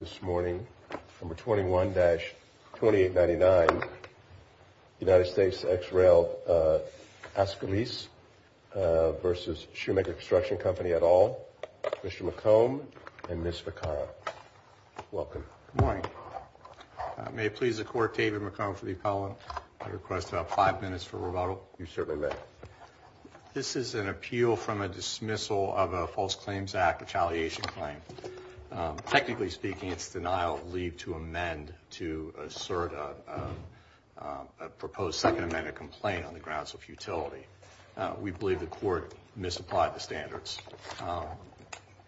Number 21-2899, United Statesexrel Ascolesevs Shoemaker Construction Company et al., Mr. McComb and Ms. Vaccaro. Welcome. Good morning. May it please the Court, David McComb for the appellant. I request about five minutes for rebuttal. You certainly may. I request that the Court, in its denial of leave, to amend to assert a proposed Second Amendment complaint on the grounds of futility. We believe the Court misapplied the standards.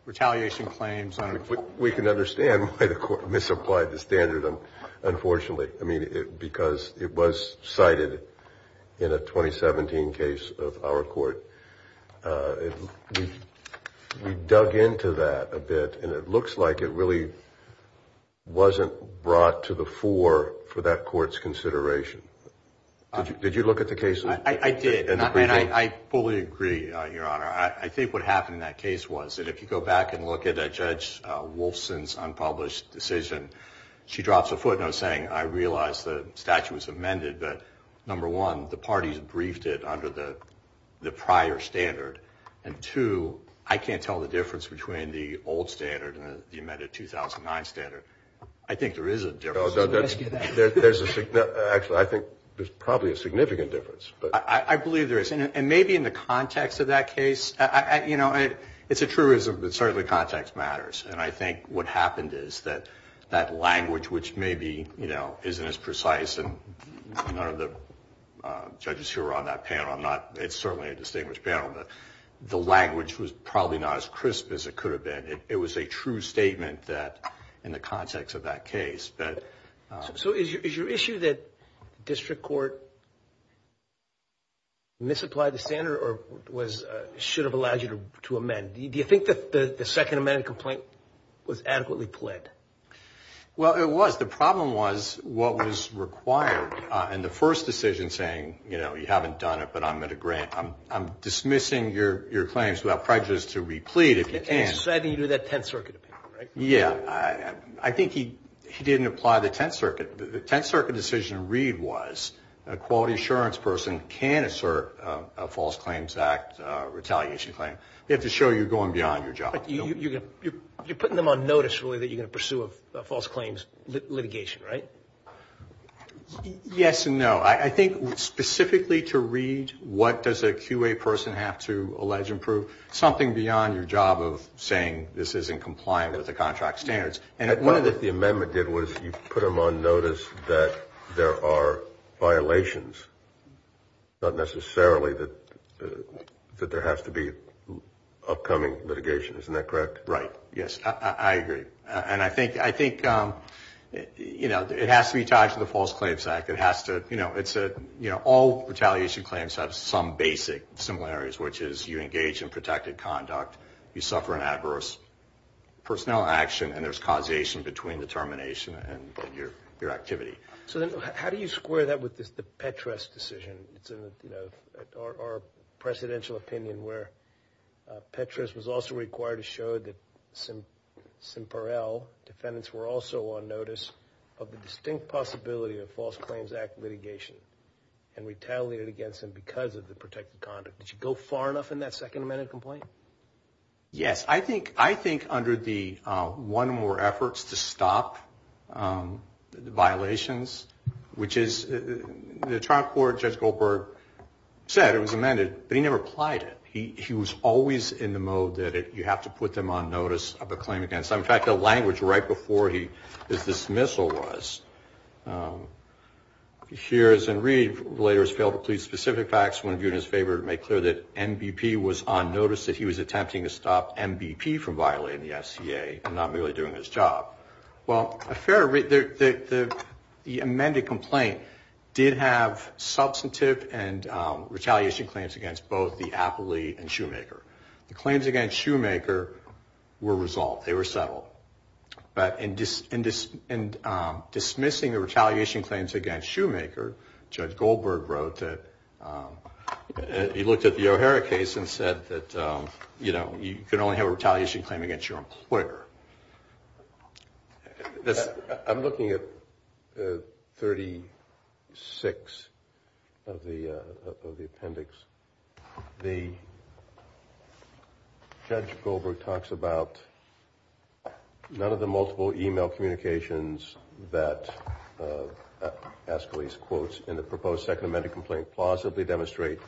Retaliation claims under the... We can understand why the Court misapplied the standard, unfortunately, because it was cited in a 2017 case of our Court. We dug into that a bit, and it looks like it really wasn't brought to the fore for that Court's consideration. Did you look at the case? I did, and I fully agree, Your Honor. I think what happened in that case was that if you go back and look at Judge Wolfson's unpublished decision, she drops a footnote saying, I realize the statute was amended, but number one, the parties briefed it under the prior standard, and two, I can't tell the difference between the old standard and the amended 2009 standard. I think there is a difference. Actually, I think there's probably a significant difference. I believe there is, and maybe in the context of that case. It's a truism, but certainly context matters, and I think what happened is that that language, which maybe isn't as precise, and none of the judges here are on that panel. It's certainly a distinguished panel, but the language was probably not as crisp as it could have been. It was a true statement in the context of that case. So is your issue that the district court misapplied the standard or should have allowed you to amend? Do you think that the second amendment complaint was adequately pled? Well, it was. The problem was what was required, and the first decision saying, you haven't done it, but I'm going to grant. I'm dismissing your claims without prejudice to replete, if you can. So I think you do that Tenth Circuit opinion, right? Yeah, I think he didn't apply the Tenth Circuit. The Tenth Circuit decision to read was a quality assurance person can assert a false claims act retaliation claim. You have to show you're going beyond your job. You're putting them on notice, really, that you're going to pursue a false claims litigation, right? Yes and no. I think specifically to read what does a QA person have to allege and prove, something beyond your job of saying this isn't compliant with the contract standards. One of the things the amendment did was you put them on notice that there are violations, not necessarily that there has to be upcoming litigation, isn't that correct? Right, yes, I agree. And I think it has to be tied to the false claims act. All retaliation claims have some basic similarities, which is you engage in protected conduct, you suffer an adverse personnel action, and there's causation between the termination and your activity. So then how do you square that with the Petras decision, our presidential opinion where Petras was also required to show that Simperell defendants were also on notice of the distinct possibility of false claims act litigation and retaliated against them because of the protected conduct. Did you go far enough in that Second Amendment complaint? Yes, I think under the one more efforts to stop violations, which is the trial court, Judge Goldberg, said it was amended, but he never applied it. He was always in the mode that you have to put them on notice of a claim against them. In fact, the language right before his dismissal was, hears and read, later has failed to plead specific facts when viewed in his favor to make clear that NBP was on notice, that he was attempting to stop NBP from violating the SCA and not merely doing his job. Well, the amended complaint did have substantive and retaliation claims against both the appellee and Shoemaker. The claims against Shoemaker were resolved. They were settled. But in dismissing the retaliation claims against Shoemaker, Judge Goldberg wrote that he looked at the O'Hara case and said that you can only have a retaliation claim against your employer. I'm looking at 36 of the appendix. The Judge Goldberg talks about none of the multiple e-mail communications that Aeschylus quotes in the proposed Second Amendment complaint plausibly demonstrate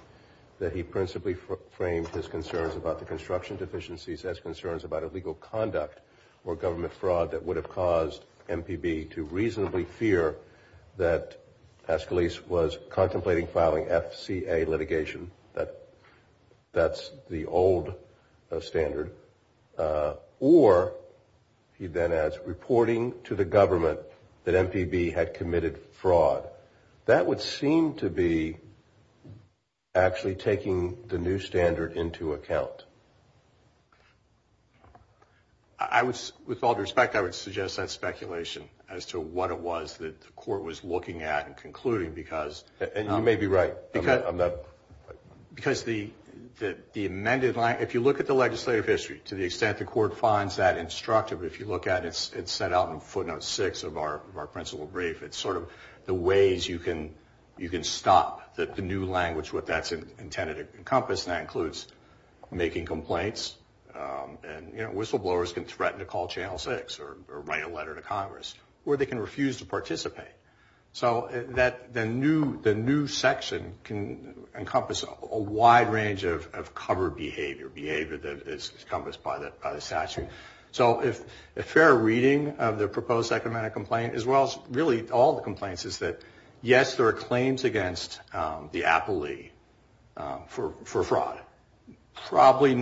that he principally framed his concerns about the construction deficiencies as concerns about illegal conduct or government fraud that would have caused MPB to reasonably fear that Aeschylus was contemplating filing FCA litigation. That's the old standard. Or, he then adds, reporting to the government that MPB had committed fraud. That would seem to be actually taking the new standard into account. With all due respect, I would suggest that speculation as to what it was that the court was looking at and concluding. You may be right. If you look at the legislative history, to the extent the court finds that instructive, if you look at it, it's set out in footnote 6 of our principal brief. It's sort of the ways you can stop the new language, what that's intended to encompass, and that includes making complaints. Whistleblowers can threaten to call Channel 6 or write a letter to Congress, or they can refuse to participate. The new section can encompass a wide range of covered behavior that is encompassed by the statute. A fair reading of the proposed second amendment complaint, as well as all the complaints, is that yes, there are claims against the appellee for fraud. Probably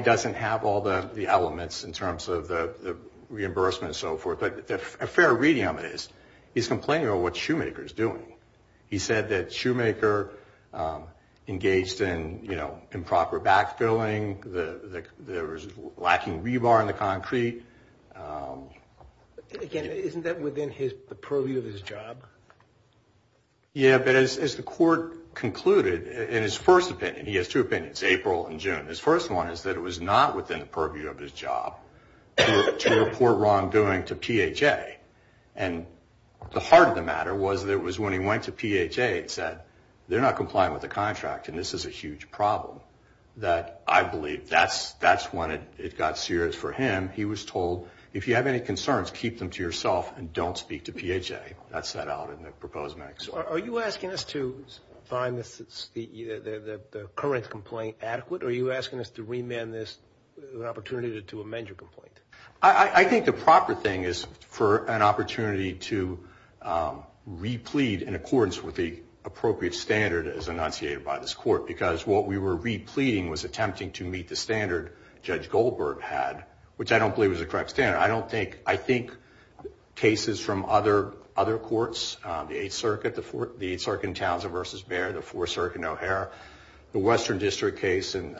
doesn't have all the elements in terms of the reimbursement and so forth, but a fair reading of it is he's complaining about what Shoemaker is doing. He said that Shoemaker engaged in improper backfilling. There was lacking rebar in the concrete. Again, isn't that within the purview of his job? Yeah, but as the court concluded in his first opinion, he has two opinions, April and June. His first one is that it was not within the purview of his job to report wrongdoing to PHA. And the heart of the matter was that it was when he went to PHA and said, they're not complying with the contract, and this is a huge problem, that I believe that's when it got serious for him. He was told, if you have any concerns, keep them to yourself and don't speak to PHA. That's set out in the proposed amendment. Are you asking us to find the current complaint adequate, or are you asking us to remand this as an opportunity to amend your complaint? I think the proper thing is for an opportunity to re-plead in accordance with the appropriate standard as enunciated by this court, because what we were re-pleading was attempting to meet the standard Judge Goldberg had, which I don't believe was the correct standard. I think cases from other courts, the Eighth Circuit in Townsend v. Baird, the Fourth Circuit in O'Hare, the Western District case in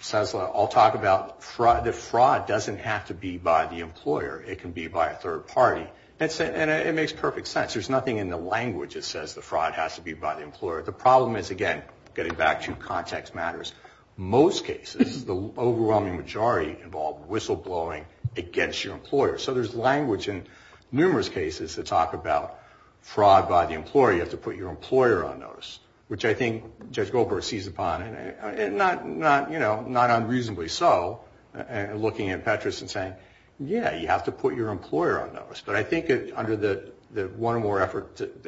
Sessler, all talk about the fraud doesn't have to be by the employer. It can be by a third party. And it makes perfect sense. There's nothing in the language that says the fraud has to be by the employer. The problem is, again, getting back to context matters, most cases, the overwhelming majority involve whistleblowing against your employer. So there's language in numerous cases that talk about fraud by the employer. You have to put your employer on notice, which I think Judge Goldberg sees upon, and not unreasonably so, looking at Petras and saying, yeah, you have to put your employer on notice. But I think under the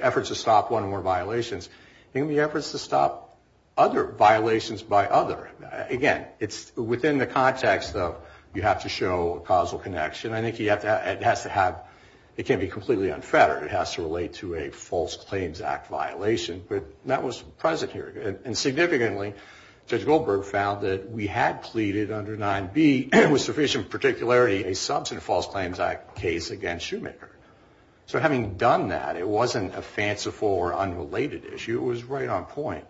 efforts to stop one or more violations, there can be efforts to stop other violations by other. Again, it's within the context of you have to show a causal connection. I think it has to have, it can't be completely unfettered. It has to relate to a False Claims Act violation. But that was present here. And significantly, Judge Goldberg found that we had pleaded under 9B, with sufficient particularity, a substantive False Claims Act case against Shoemaker. So having done that, it wasn't a fanciful or unrelated issue. It was right on point.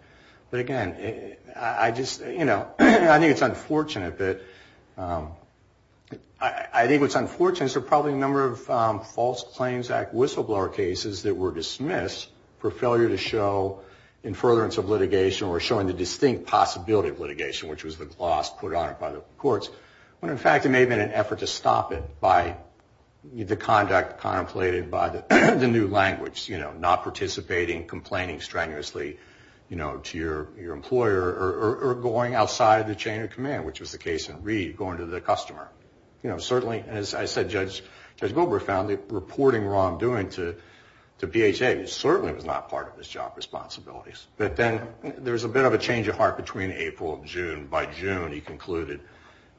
But again, I just, you know, I think it's unfortunate that, I think what's unfortunate is there are probably a number of False Claims Act whistleblower cases that were dismissed for failure to show in furtherance of litigation, or showing the distinct possibility of litigation, which was the gloss put on it by the courts. When in fact, it may have been an effort to stop it by the conduct contemplated by the new language. You know, not participating, complaining strenuously to your employer, or going outside the chain of command, which was the case in Reed, going to the customer. Certainly, as I said, Judge Goldberg found that reporting wrongdoing to BHA certainly was not part of his job responsibilities. But then there was a bit of a change of heart between April and June. By June, he concluded,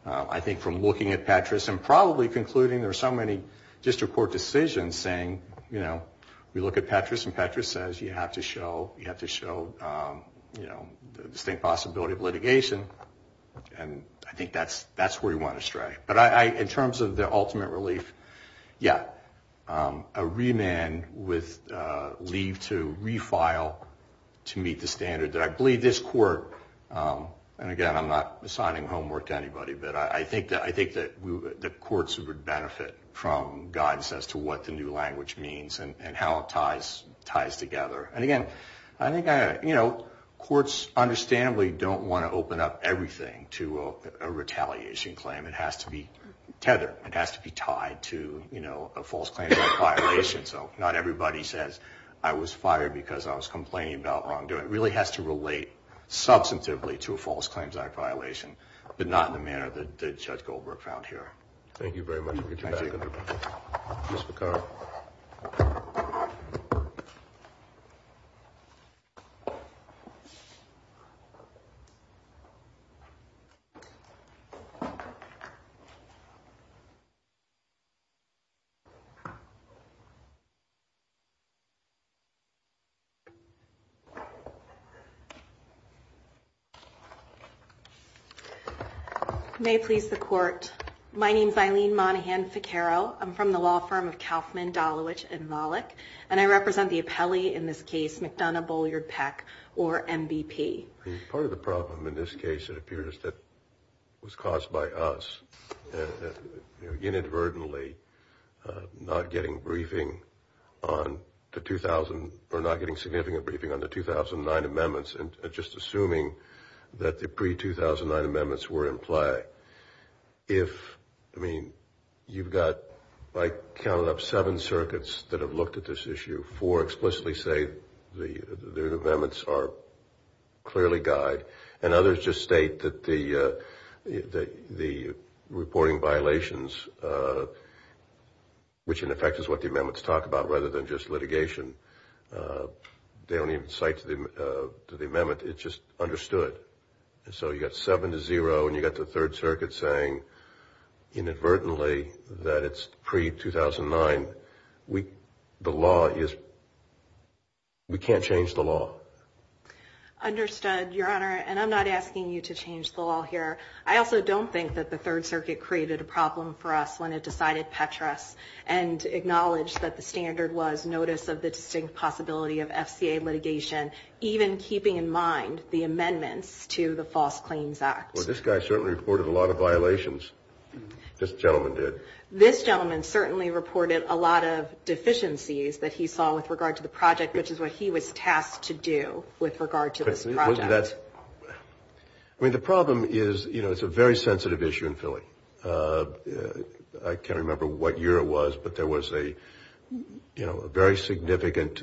I think from looking at Petras, and probably concluding there are so many district court decisions saying, you know, we look at Petras, and Petras says you have to show the distinct possibility of litigation. And I think that's where he went astray. But in terms of the ultimate relief, yeah, a remand with leave to refile to meet the standard. I believe this court, and again, I'm not assigning homework to anybody, but I think that the courts would benefit from guidance as to what the new language means and how it ties together. And again, I think, you know, courts understandably don't want to open up everything to a retaliation claim. It has to be tethered. It has to be tied to, you know, a false claim of violation. So not everybody says I was fired because I was complaining about wrongdoing. It really has to relate substantively to a false claims act violation, but not in the manner that Judge Goldberg found here. May it please the court. My name is Eileen Monahan Ficarro. I'm from the law firm of Kauffman, Dolowich, and Malik, and I represent the appellee in this case, McDonough, Bolliard, Peck, or MVP. Part of the problem in this case, it appears, is that it was caused by us inadvertently not getting briefing on the 2000 or not getting significant briefing on the 2009 amendments and just assuming that the pre-2009 amendments were in play. If, I mean, you've got, by counting up seven circuits that have looked at this issue, four explicitly say the amendments are clearly guide, and others just state that the reporting violations, which in effect is what the amendments talk about rather than just litigation, they don't even cite to the amendment, it's just understood. So you've got seven to zero and you've got the third circuit saying inadvertently that it's pre-2009. The law is, we can't change the law. Understood, Your Honor, and I'm not asking you to change the law here. I also don't think that the third circuit created a problem for us when it decided Petras and acknowledged that the standard was notice of the distinct possibility of FCA litigation, even keeping in mind the amendments to the False Claims Act. Well, this guy certainly reported a lot of violations. This gentleman did. This gentleman certainly reported a lot of deficiencies that he saw with regard to the project, which is what he was tasked to do with regard to this project. I mean, the problem is, you know, it's a very sensitive issue in Philly. I can't remember what year it was, but there was a, you know, a very significant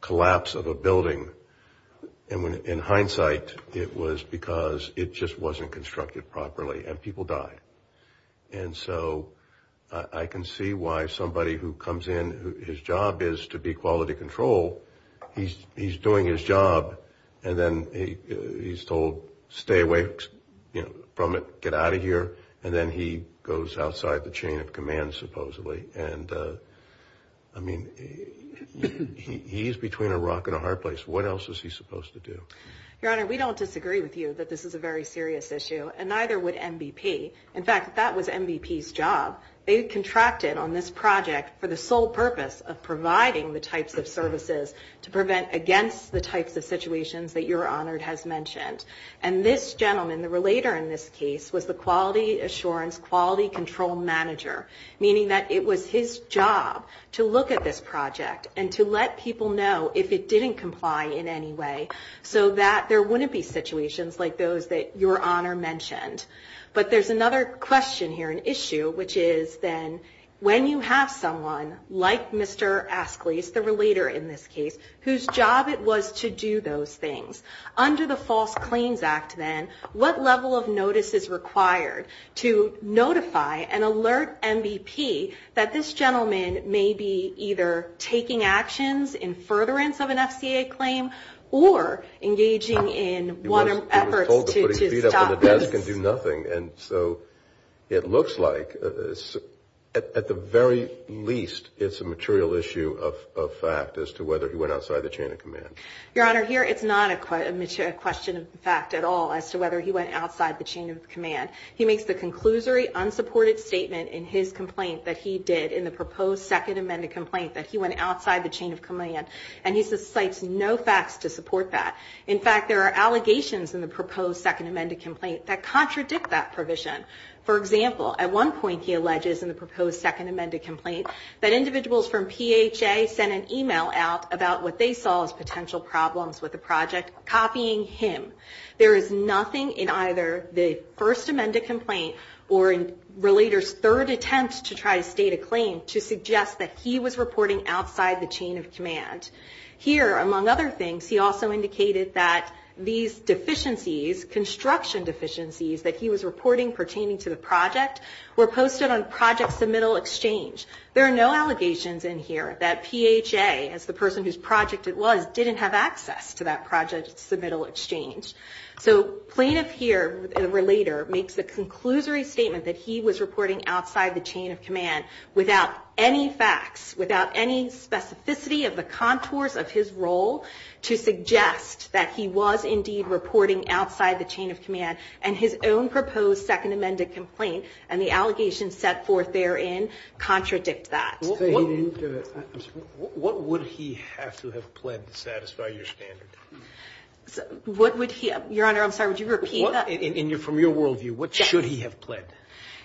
collapse of a building. And in hindsight, it was because it just wasn't constructed properly and people died. And so I can see why somebody who comes in, whose job is to be quality control, he's doing his job and then he's told, stay away from it, get out of here. And then he goes outside the chain of command, supposedly. And, I mean, he's between a rock and a hard place. What else is he supposed to do? Your Honor, we don't disagree with you that this is a very serious issue, and neither would MBP. In fact, that was MBP's job. They contracted on this project for the sole purpose of providing the types of services to prevent against the types of situations that Your Honor has mentioned. And this gentleman, the relator in this case, was the quality assurance, quality control manager, meaning that it was his job to look at this project and to let people know if it didn't comply in any way, so that there wouldn't be situations like those that Your Honor mentioned. But there's another question here, an issue, which is then when you have someone like Mr. Askleys, the relator in this case, whose job it was to do those things. Under the False Claims Act, then, what level of notice is required to notify and alert MBP that this gentleman may be either taking actions in furtherance of an FCA claim or engaging in efforts to stop this? He was told to put his feet up on the desk and do nothing. And so it looks like, at the very least, it's a material issue of fact as to whether he went outside the chain of command. Your Honor, here it's not a question of fact at all as to whether he went outside the chain of command. He makes the conclusory unsupported statement in his complaint that he did in the proposed second amended complaint that he went outside the chain of command, and he cites no facts to support that. In fact, there are allegations in the proposed second amended complaint that contradict that provision. For example, at one point, he alleges in the proposed second amended complaint that individuals from PHA sent an email out about what they saw as potential problems with the project, copying him. There is nothing in either the first amended complaint or in relator's third attempt to try to state a claim to suggest that he was reporting outside the chain of command. Here, among other things, he also indicated that these deficiencies, construction deficiencies that he was reporting pertaining to the project, were posted on project submittal exchange. There are no allegations in here that PHA, as the person whose project it was, didn't have access to that project submittal exchange. So plaintiff here, the relator, makes the conclusory statement that he was reporting outside the chain of command, and his own proposed second amended complaint and the allegations set forth therein contradict that. What would he have to have pled to satisfy your standard? What would he, Your Honor, I'm sorry, would you repeat that?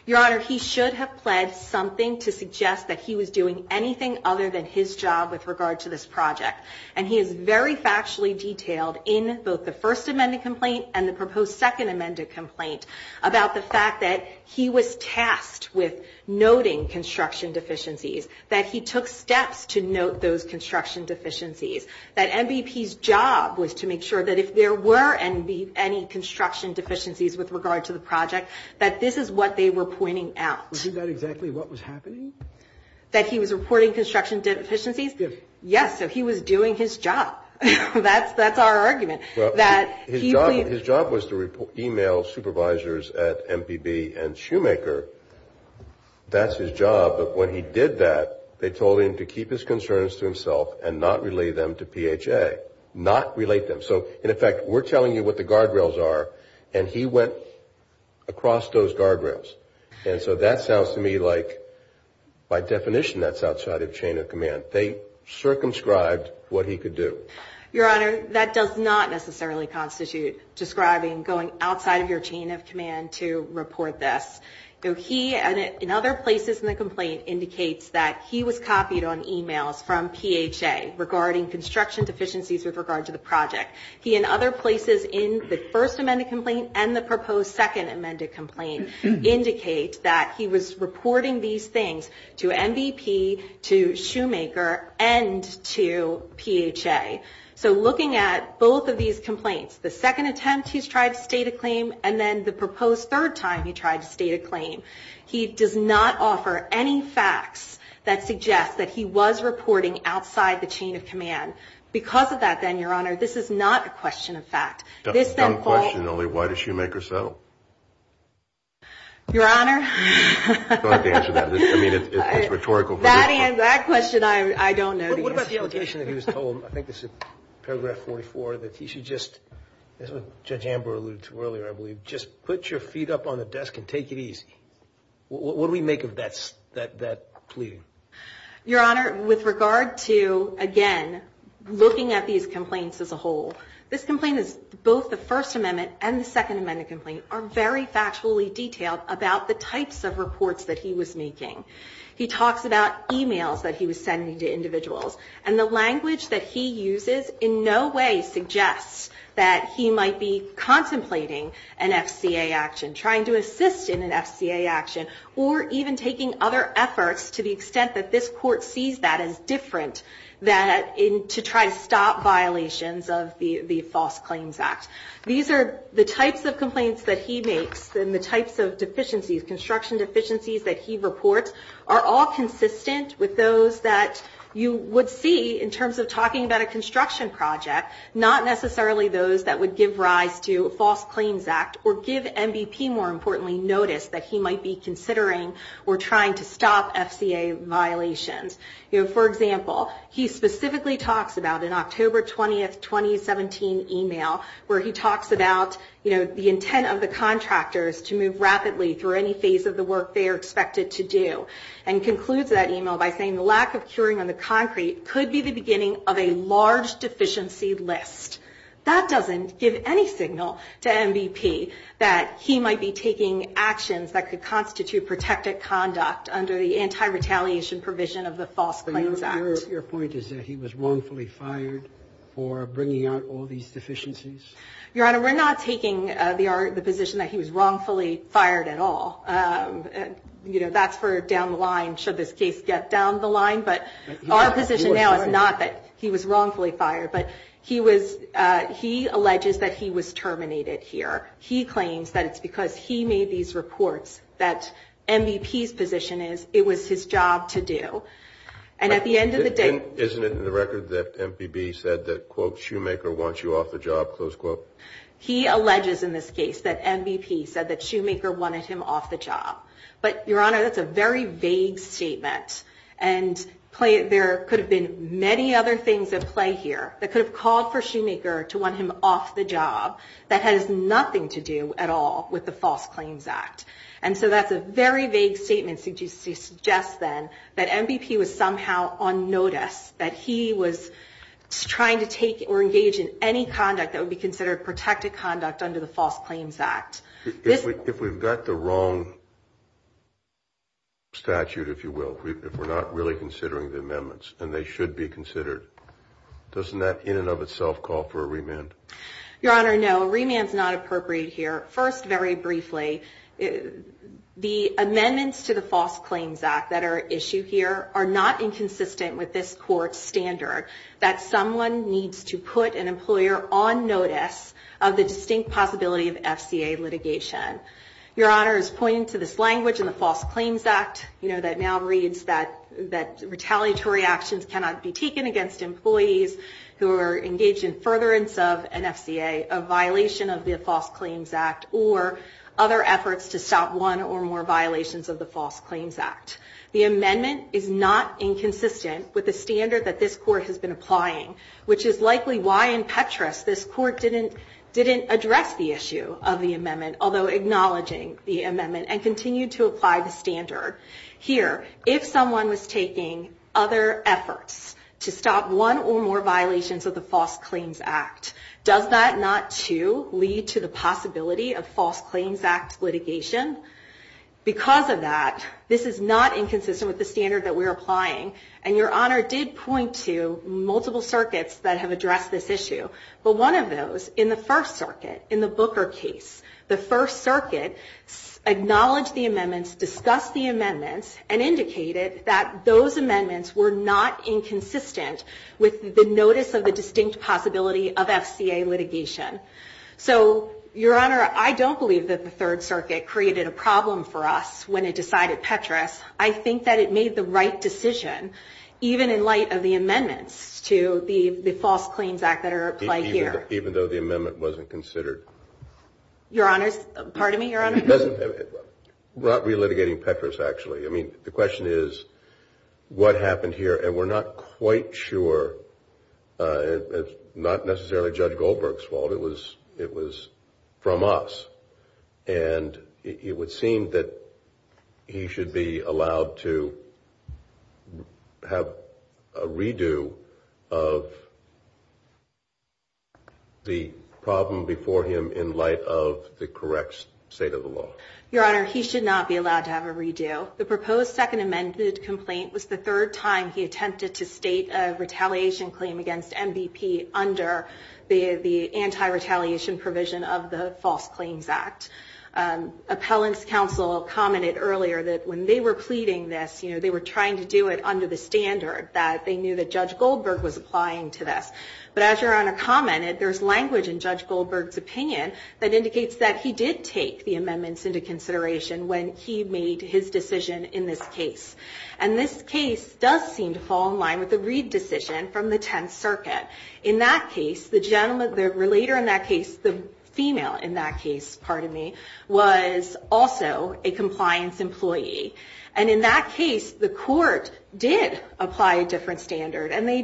Your Honor, he should have pled something to suggest that he was doing anything other than his job with regard to this project. And he is very factually detailed in both the first amended complaint and the proposed second amended complaint about the fact that he was tasked with noting construction deficiencies, that he took steps to note those construction deficiencies, that MVP's job was to make sure that if there were any construction deficiencies with regard to the project, that this is what they were pointing out. Was he not exactly what was happening? That he was reporting construction deficiencies? Yes. So he was doing his job. That's our argument. His job was to email supervisors at MPB and Shoemaker. That's his job. But when he did that, they told him to keep his concerns to himself and not relate them to PHA. Not relate them. So in effect, we're telling you what the guardrails are, and he went across those guardrails. And so that sounds to me like by definition that's outside of chain of command. They circumscribed what he could do. Your Honor, that does not necessarily constitute describing going outside of your chain of command to report this. He, and in other places in the complaint, indicates that he was copied on emails from PHA regarding construction deficiencies with regard to the project. He, in other places in the first amended complaint and the proposed second amended complaint, indicate that he was reporting these things to MVP, to Shoemaker, and to PHA. So looking at both of these complaints, the second attempt he's tried to state a claim, and then the proposed third time he tried to state a claim, he does not offer any facts that suggest that he was reporting outside the chain of command. Because of that, then, Your Honor, this is not a question of fact. Your Honor, that question I don't know. What about the allegation that he was told, I think this is paragraph 44, that he should just, as Judge Amber alluded to earlier, I believe, just put your feet up on the desk and take it easy. What do we make of that plea? Your Honor, with regard to, again, looking at these complaints as a whole, this complaint is both the first amendment and the second amendment complaint are very factually detailed about the types of reports that he was making. He talks about emails that he was sending to individuals, and the language that he uses in no way suggests that he might be making a false CLA action or even taking other efforts to the extent that this Court sees that as different than to try to stop violations of the False Claims Act. These are the types of complaints that he makes and the types of deficiencies, construction deficiencies that he reports are all consistent with those that you would see in terms of talking about a construction project, not necessarily those that would give rise to a False Claims Act or give MVP, more importantly, notice that he might be considering or trying to stop FCA violations. For example, he specifically talks about an October 20, 2017 email where he talks about the intent of the contractors to move rapidly through any phase of the work they are expected to do and concludes that email by saying, the lack of curing on the concrete could be the beginning of a large deficiency list. That doesn't give any signal to MVP that he might be taking actions that could constitute protected conduct under the anti-retaliation provision of the False Claims Act. Your point is that he was wrongfully fired for bringing out all these deficiencies? Your Honor, we're not taking the position that he was wrongfully fired at all. That's for down the line, should this case get down the line, but our position now is not that he was wrongfully fired, but he was terminated here. He claims that it's because he made these reports that MVP's position is it was his job to do. Isn't it in the record that MVP said that, quote, Shoemaker wants you off the job, close quote? He alleges in this case that MVP said that Shoemaker wanted him off the job. But, Your Honor, that's a very vague statement. And there could have been many other things at play here that could have called for Shoemaker to want him off the job. That has nothing to do at all with the False Claims Act. And so that's a very vague statement to suggest then that MVP was somehow on notice, that he was trying to take or engage in any conduct that would be considered protected conduct under the False Claims Act. If we've got the wrong statute, if you will, if we're not really considering the amendments and they should be considered, doesn't that in and of itself call for a remand? Your Honor, no, a remand is not appropriate here. First, very briefly, the amendments to the False Claims Act that are issued here are not inconsistent with this court's standard that someone needs to put an employer on notice of the distinct possibility of FCA litigation. Your Honor is pointing to this language in the False Claims Act that now reads that retaliatory actions cannot be taken against employees who are engaged in furtherance of an FCA, a violation of the False Claims Act, or other efforts to stop one or more violations of the False Claims Act. The amendment is not inconsistent with the standard that this court has been applying, which is likely why in Petras this court didn't acknowledge the amendment and continued to apply the standard. Here, if someone was taking other efforts to stop one or more violations of the False Claims Act, does that not, too, lead to the possibility of False Claims Act litigation? Because of that, this is not inconsistent with the standard that we're applying, and Your Honor did point to multiple circuits that have addressed this issue. The First Circuit acknowledged the amendments, discussed the amendments, and indicated that those amendments were not inconsistent with the notice of the distinct possibility of FCA litigation. So, Your Honor, I don't believe that the Third Circuit created a problem for us when it decided Petras. I think that it made the right decision, even in light of the amendments to the False Claims Act that are applied here. Even though the amendment wasn't considered. We're not relitigating Petras, actually. The question is, what happened here, and we're not quite sure. It's not necessarily Judge Goldberg's fault. It was from us, and it would seem that he should be allowed to have a redo of the problem before him in light of the correct state of the law. Your Honor, he should not be allowed to have a redo. The proposed second amended complaint was the third time he attempted to state a retaliation claim against MVP under the anti-retaliation provision of the False Claims Act. Appellant's counsel commented earlier that when they were pleading this, they were trying to do it under the standard that they knew that was in place. And there's language in Judge Goldberg's opinion that indicates that he did take the amendments into consideration when he made his decision in this case. And this case does seem to fall in line with the Reed decision from the Tenth Circuit. In that case, the gentleman, the relater in that case, the female in that case, pardon me, was also a compliance employee. And in that case, the court did apply a different standard. And they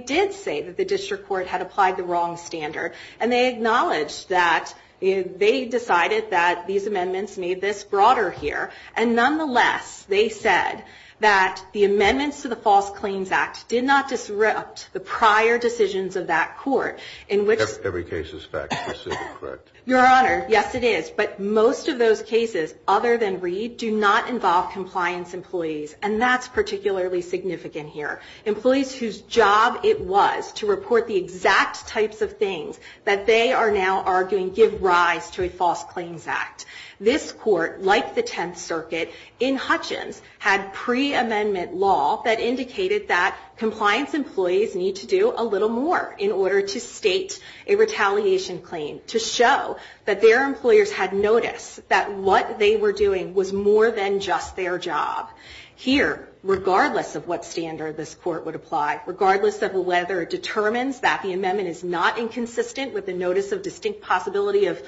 acknowledged that they decided that these amendments made this broader here. And nonetheless, they said that the amendments to the False Claims Act did not disrupt the prior decisions of that court. Every case is fact, specific, correct. Your Honor, yes it is. But most of those cases, other than Reed, do not involve compliance employees. And that's particularly significant here. Employees whose job it was to report the exact types of things that they are now arguing give rise to a False Claims Act. This court, like the Tenth Circuit, in Hutchins, had pre-amendment law that indicated that compliance employees need to do a little more in order to state a retaliation claim to show that their employers had noticed that what they were doing was more than just their job. Here, regardless of what standard this court would apply, regardless of whether it determines that the amendment is not inconsistent with the notice of distinct possibility of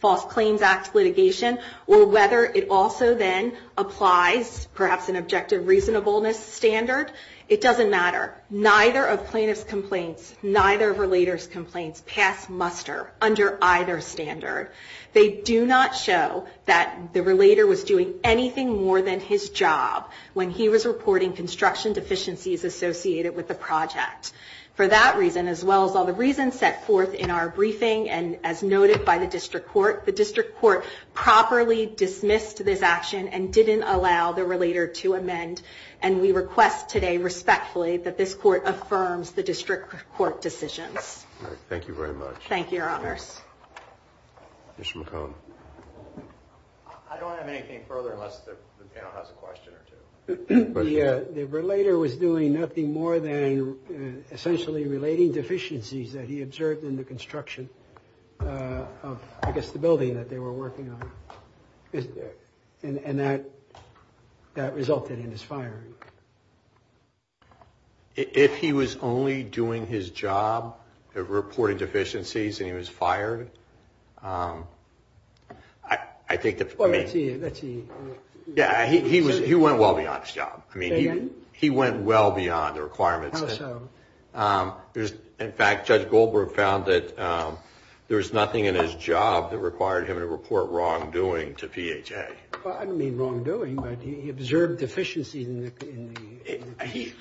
False Claims Act litigation, or whether it also then applies perhaps an objective reasonableness standard, it doesn't matter. Neither of plaintiff's complaints, neither of relater's complaints pass muster under either standard. They do not show that the relater was doing anything more than his job when he was reporting construction deficiencies associated with the project. For that reason, as well as all the reasons set forth in our briefing, and as noted by the District Court, the District Court properly dismissed this action and didn't allow the relater to amend. And we request today respectfully that this court affirms the District Court decisions. Mr. McCone. I don't have anything further unless the panel has a question or two. The relater was doing nothing more than essentially relating deficiencies that he observed in the construction of, I guess, the building that they were working on. And that resulted in his firing. If he was only doing his job of reporting deficiencies and he was fired, that would be a violation of the statute. I think that... He went well beyond his job. He went well beyond the requirements. In fact, Judge Goldberg found that there was nothing in his job that required him to report wrongdoing to PHA. I don't mean wrongdoing, but he observed deficiencies in the construction. He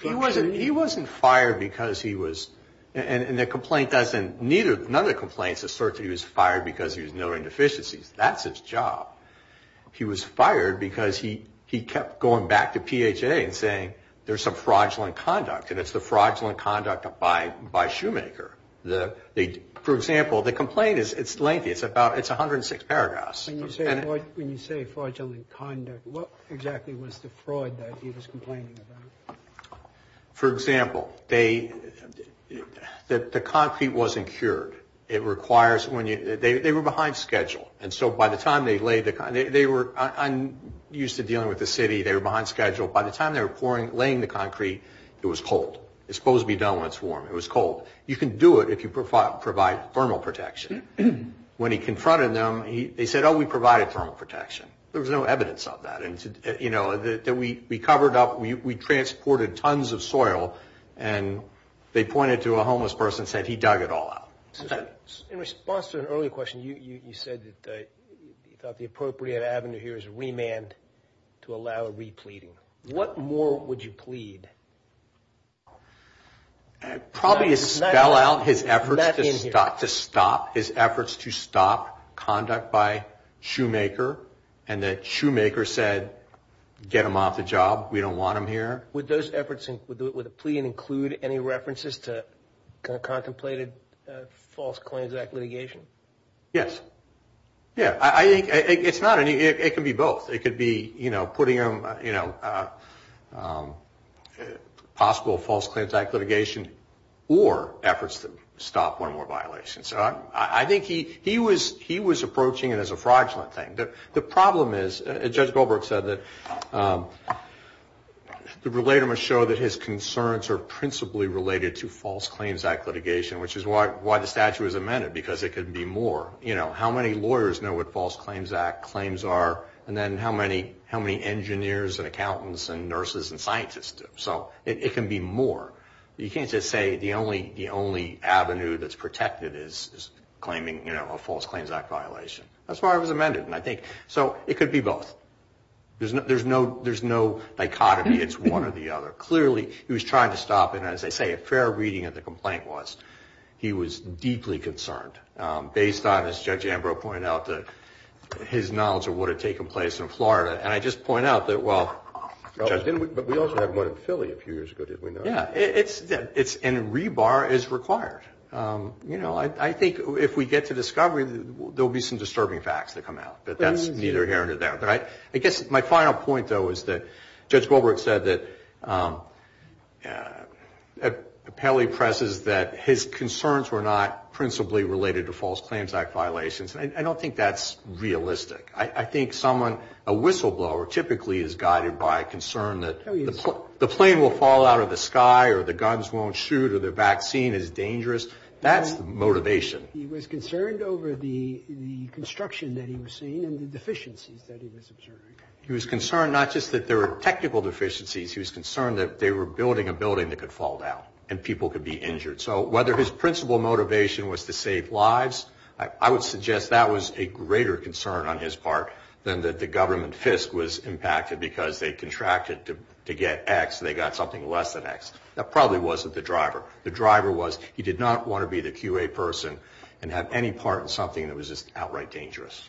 wasn't fired because he was, and the complaint doesn't, none of the complaints assert that he was fired because he was knowing deficiencies. That's his job. He was fired because he kept going back to PHA and saying there's some fraudulent conduct, and it's the fraudulent conduct by Shoemaker. For example, the complaint is lengthy. It's about, it's 106 paragraphs. When you say fraudulent conduct, what exactly was the fraud that he was complaining about? For example, the concrete wasn't cured. It requires, they were behind schedule, and so by the time they laid the, they were, I'm used to dealing with the city, they were behind schedule. By the time they were laying the concrete, it was cold. It's supposed to be done when it's warm. It was cold. You can do it if you provide thermal protection. When he confronted them, they said, oh, we provided thermal protection. There was no evidence of that. We covered up, we transported tons of soil, and they pointed to a homeless person and said he dug it all out. In response to an earlier question, you said that you thought the appropriate avenue here is remand to allow a repleading. What more would you plead? Probably spell out his efforts to stop, his efforts to stop conduct by Shoemaker, and that Shoemaker said, get him off the job. We don't want him here. Would those efforts, would the plea include any references to contemplated false claims act litigation? Yes. Yeah, I think, it's not any, it could be both. It could be, you know, putting him, you know, possible false claims act litigation, or efforts to stop one more violation. So I think he was approaching it as a fraudulent thing. The problem is, Judge Goldberg said that the relator must show that his concerns are principally related to false claims act litigation, which is why the statute was amended, because it could be more. You know, how many lawyers know what false claims act claims are, and then how many engineers and accountants and nurses and scientists do? So it can be more. You can't just say the only avenue that's protected is claiming, you know, a false claims act violation. That's why it was amended, and I think, so it could be both. There's no, there's no dichotomy, it's one or the other. Clearly, he was trying to stop, and as I say, a fair reading of the complaint was, he was deeply concerned, based on, as Judge Ambrose pointed out, his knowledge of what had taken place in Florida, and I just point out that, well. It's, and rebar is required. You know, I think if we get to discovery, there will be some disturbing facts that come out, but that's neither here nor there. I guess my final point, though, is that Judge Goldberg said that, apparently presses that his concerns were not principally related to false claims act violations, and I don't think that's realistic. I think someone, a whistleblower, typically is guided by concern that the plane will fall out of the sky, or the guns won't shoot, or the vaccine is dangerous. That's the motivation. He was concerned not just that there were technical deficiencies, he was concerned that they were building a building that could fall down, and people could be injured. So whether his principal motivation was to save lives, I would suggest that was a greater concern on his part. And that the government FISC was impacted because they contracted to get X, and they got something less than X. That probably wasn't the driver. The driver was, he did not want to be the QA person and have any part in something that was just outright dangerous.